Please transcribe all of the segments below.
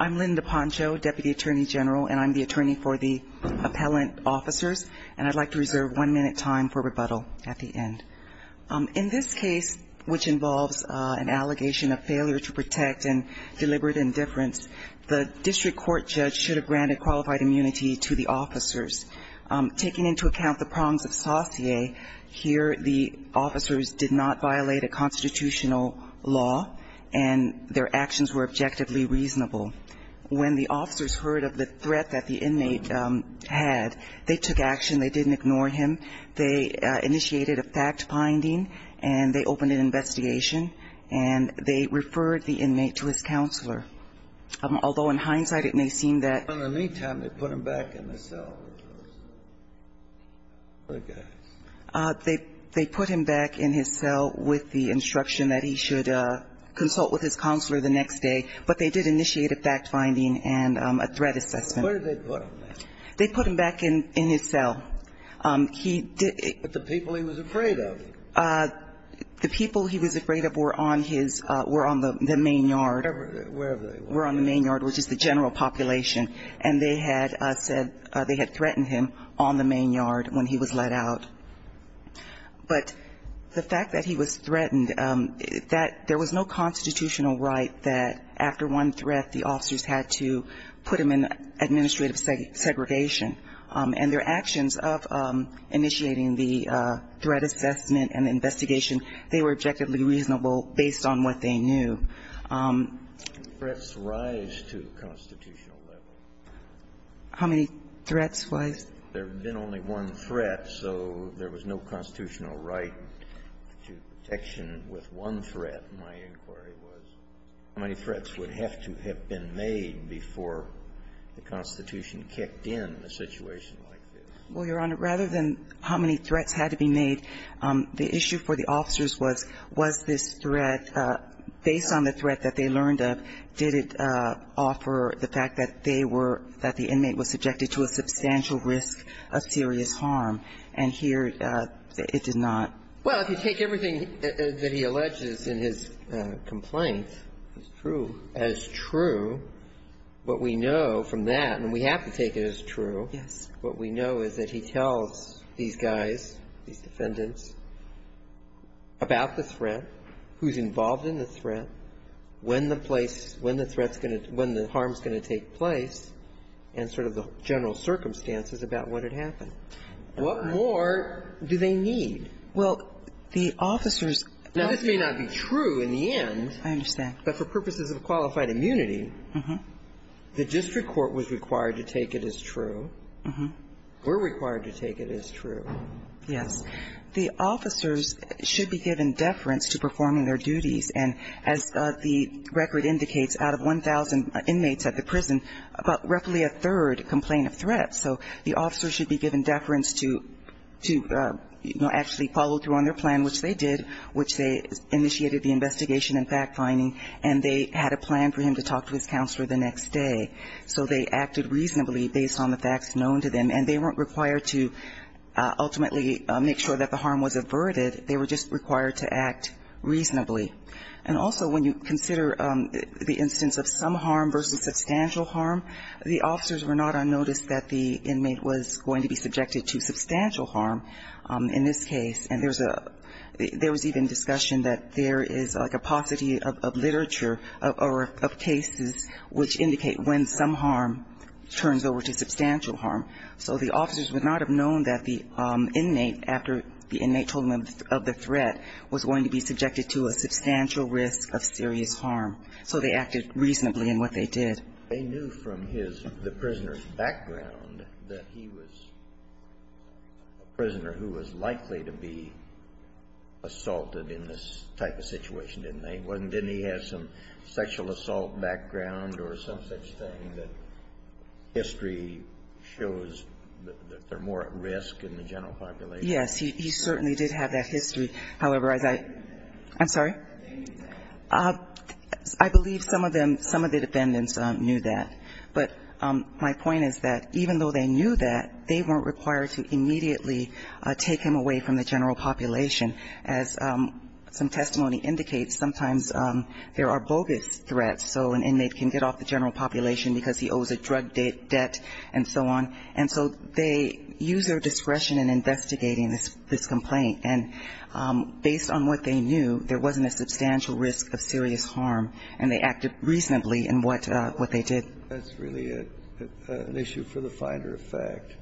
I'm Linda Poncho, Deputy Attorney General, and I'm the attorney for the appellant officers, and I'd like to reserve one minute time for rebuttal at the end. In this case, which involves an allegation of failure to protect and deliberate indifference, the district court judge should have granted qualified immunity to the officers. Taking into account the prongs of saucier, here the officers did not violate a constitutional law and their actions were objectively reasonable. When the officers heard of the threat that the inmate had, they took action. They didn't ignore him. They initiated a fact-finding, and they opened an investigation, and they referred the inmate to his counselor. Although in hindsight it may seem that they put him back in his cell with the instruction that he should consult with his counselor the next day, but they did initiate a fact-finding and a threat assessment. Where did they put him? They put him back in his cell. But the people he was afraid of? The people he was afraid of were on his ñ were on the main yard. Wherever they were. Were on the main yard, which is the general population, and they had said they had threatened him on the main yard when he was let out. But the fact that he was threatened, that there was no constitutional right that after one threat, the officers had to put him in administrative segregation. And their actions of initiating the threat assessment and the investigation, they were objectively reasonable based on what they knew. Threats rise to the constitutional level. How many threats was? There had been only one threat, so there was no constitutional right to protection with one threat, my inquiry was. How many threats would have to have been made before the Constitution kicked in a situation like this? Well, Your Honor, rather than how many threats had to be made, the issue for the officers was, was this threat, based on the threat that they learned of, did it offer the fact that they were ñ that the inmate was subjected to a substantial risk of serious harm, and here it did not? Well, if you take everything that he alleges in his complaint as true, what we know from that, and we have to take it as true, what we know is that he tells these guys, these defendants, about the threat, who's involved in the threat, when the place ñ when the harm's going to take place, and sort of the general circumstances about what had happened. What more do they need? Well, the officers ñ Now, this may not be true in the end. I understand. But for purposes of qualified immunity, the district court was required to take it as true. We're required to take it as true. Yes. The officers should be given deference to performing their duties, and as the record indicates, out of 1,000 inmates at the prison, about roughly a third complain of threats. So the officers should be given deference to, you know, actually follow through on their plan, which they did, which they initiated the investigation and fact-finding, and they had a plan for him to talk to his counselor the next day. So they acted reasonably based on the facts known to them, and they weren't required to ultimately make sure that the harm was averted. They were just required to act reasonably. And also, when you consider the instance of some harm versus substantial harm, the officers were not unnoticed that the inmate was going to be subjected to substantial harm in this case. And there's a ñ there was even discussion that there is like a paucity of literature of cases which indicate when some harm turns over to substantial harm. So the officers would not have known that the inmate, after the inmate told them of the threat, was going to be subjected to a substantial risk of serious harm. So they acted reasonably in what they did. They knew from his ñ the prisoner's background that he was a prisoner who was likely to be assaulted in this type of situation, didn't they? Didn't he have some sexual assault background or some such thing that history shows that they're more at risk in the general population? Yes, he certainly did have that history. However, as I ñ I'm sorry? I believe some of them, some of the defendants knew that. But my point is that even though they knew that, they weren't required to immediately take him away from the general population. As some testimony indicates, sometimes there are bogus threats. So an inmate can get off the general population because he owes a drug debt and so on. And so they use their discretion in investigating this complaint. And based on what they knew, there wasn't a substantial risk of serious harm, and they acted reasonably in what they did. That's really an issue for the finder of fact.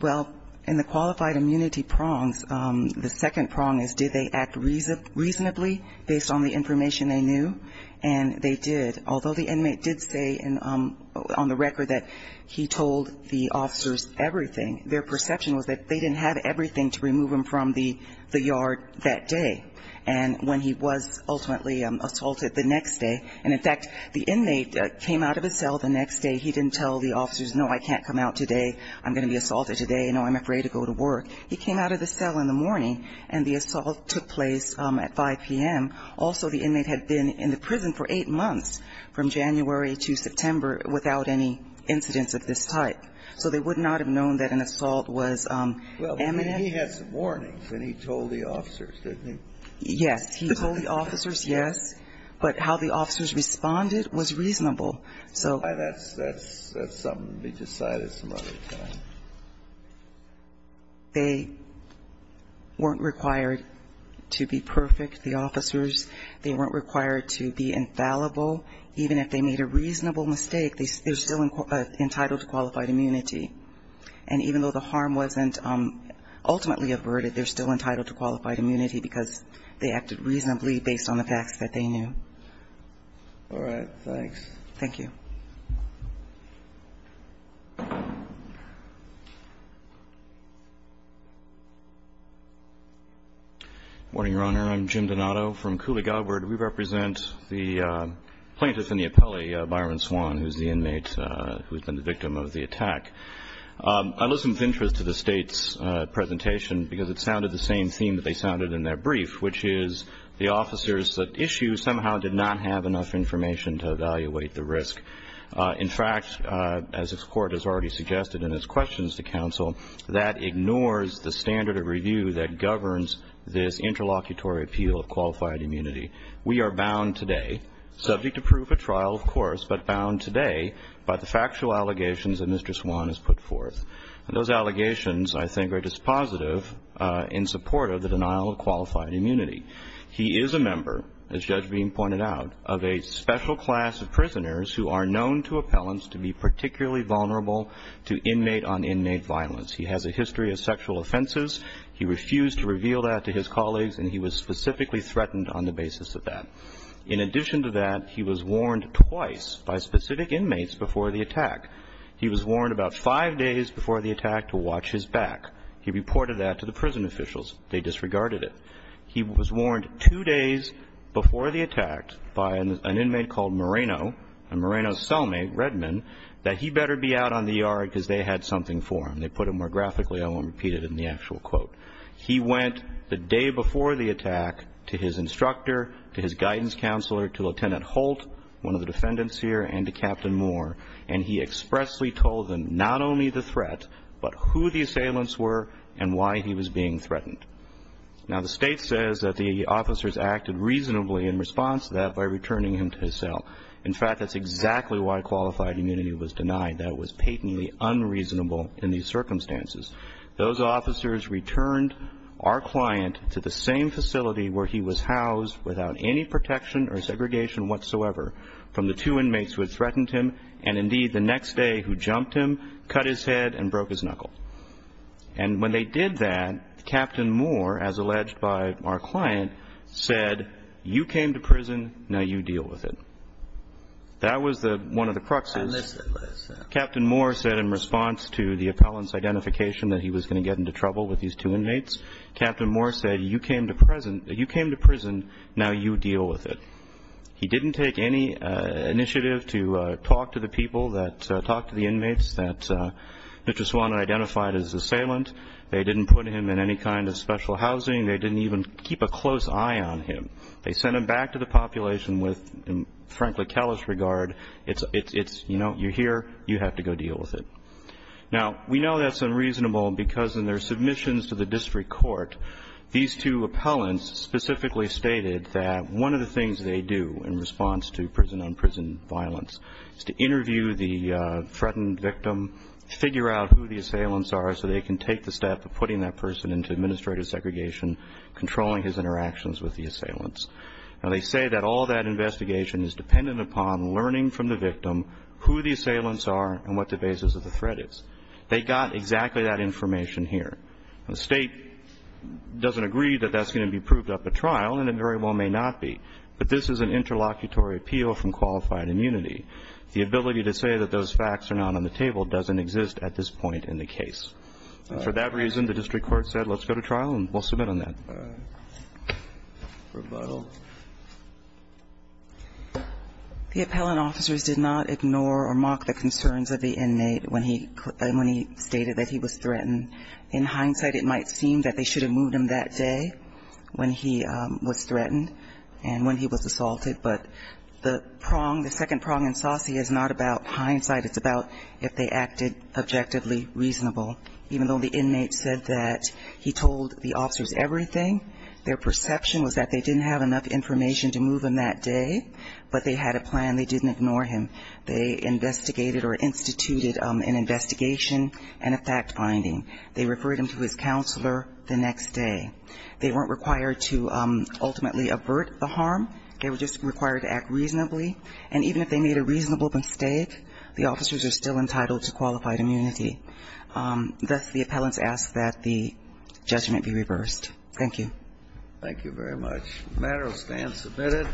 Well, in the qualified immunity prongs, the second prong is did they act reasonably based on the information they knew? And they did. Although the inmate did say on the record that he told the officers everything, their perception was that they didn't have everything to remove him from the yard that day. And when he was ultimately assaulted the next day, and in fact the inmate came out of his cell the next day, he didn't tell the officers, no, I can't come out today, I'm going to be assaulted today, no, I'm afraid to go to work. He came out of the cell in the morning, and the assault took place at 5 p.m. Also, the inmate had been in the prison for eight months, from January to September, without any incidents of this type. So they would not have known that an assault was imminent. Well, but he had some warnings, and he told the officers, didn't he? Yes. He told the officers, yes. But how the officers responded was reasonable. So that's something to be decided some other time. They weren't required to be perfect, the officers. They weren't required to be infallible. Even if they made a reasonable mistake, they're still entitled to qualified immunity. And even though the harm wasn't ultimately averted, they're still entitled to qualified immunity because they acted reasonably based on the facts that they knew. All right. Thanks. Thank you. Good morning, Your Honor. I'm Jim Donato from Cooley-Galward. We represent the plaintiff in the appellee, Byron Swan, who's the inmate who's been the victim of the attack. I listened with interest to the State's presentation because it sounded the same theme that they sounded in their brief, which is the officers at issue somehow did not have enough information to evaluate the risk. In fact, as this Court has already suggested in its questions to counsel, that ignores the standard of review that governs this interlocutory appeal of qualified immunity. We are bound today, subject to proof at trial, of course, but bound today by the factual allegations that Mr. Swan has put forth. And those allegations, I think, are dispositive in support of the denial of qualified immunity. He is a member, as Judge Beam pointed out, of a special class of prisoners who are known to appellants to be particularly vulnerable to inmate-on-inmate violence. He has a history of sexual offenses. He refused to reveal that to his colleagues, and he was specifically threatened on the basis of that. In addition to that, he was warned twice by specific inmates before the attack. He was warned about five days before the attack to watch his back. He reported that to the prison officials. They disregarded it. He was warned two days before the attack by an inmate called Moreno, a Moreno cellmate, Redman, that he better be out on the yard because they had something for him. They put it more graphically. I won't repeat it in the actual quote. He went the day before the attack to his instructor, to his guidance counselor, to Lieutenant Holt, one of the defendants here, and to Captain Moore, and he expressly told them not only the threat but who the assailants were and why he was being threatened. Now, the State says that the officers acted reasonably in response to that by returning him to his cell. In fact, that's exactly why qualified immunity was denied. That was patently unreasonable in these circumstances. Those officers returned our client to the same facility where he was housed without any protection or segregation whatsoever from the two inmates who had threatened him, and indeed the next day who jumped him, cut his head, and broke his knuckle. And when they did that, Captain Moore, as alleged by our client, said, you came to prison, now you deal with it. That was one of the cruxes. Captain Moore said in response to the appellant's identification that he was going to get into trouble with these two inmates, Captain Moore said, you came to prison, now you deal with it. He didn't take any initiative to talk to the people that talked to the inmates that Mr. Swan identified as assailant. They didn't put him in any kind of special housing. They didn't even keep a close eye on him. They sent him back to the population with, frankly, callous regard. It's, you know, you're here, you have to go deal with it. Now, we know that's unreasonable because in their submissions to the district court, these two appellants specifically stated that one of the things they do in response to prison-on-prison violence is to interview the threatened victim, figure out who the assailants are, so they can take the step of putting that person into administrative segregation, controlling his interactions with the assailants. Now, they say that all that investigation is dependent upon learning from the victim who the assailants are and what the basis of the threat is. They got exactly that information here. Now, the State doesn't agree that that's going to be proved up at trial, and it very well may not be, but this is an interlocutory appeal from qualified immunity. The ability to say that those facts are not on the table doesn't exist at this point in the case. For that reason, the district court said, let's go to trial and we'll submit on that. Rebuttal. The appellant officers did not ignore or mock the concerns of the inmate when he stated that he was threatened. In hindsight, it might seem that they should have moved him that day when he was threatened and when he was assaulted, but the prong, the second prong in Saucy is not about hindsight. It's about if they acted objectively reasonable. Even though the inmate said that he told the officers everything, their perception was that they didn't have enough information to move him that day, but they had a plan. They didn't ignore him. They investigated or instituted an investigation and a fact-finding. They referred him to his counselor the next day. They weren't required to ultimately avert the harm. They were just required to act reasonably. And even if they made a reasonable mistake, the officers are still entitled to qualified immunity. Thus, the appellants ask that the judgment be reversed. Thank you. Thank you very much. The matter is then submitted.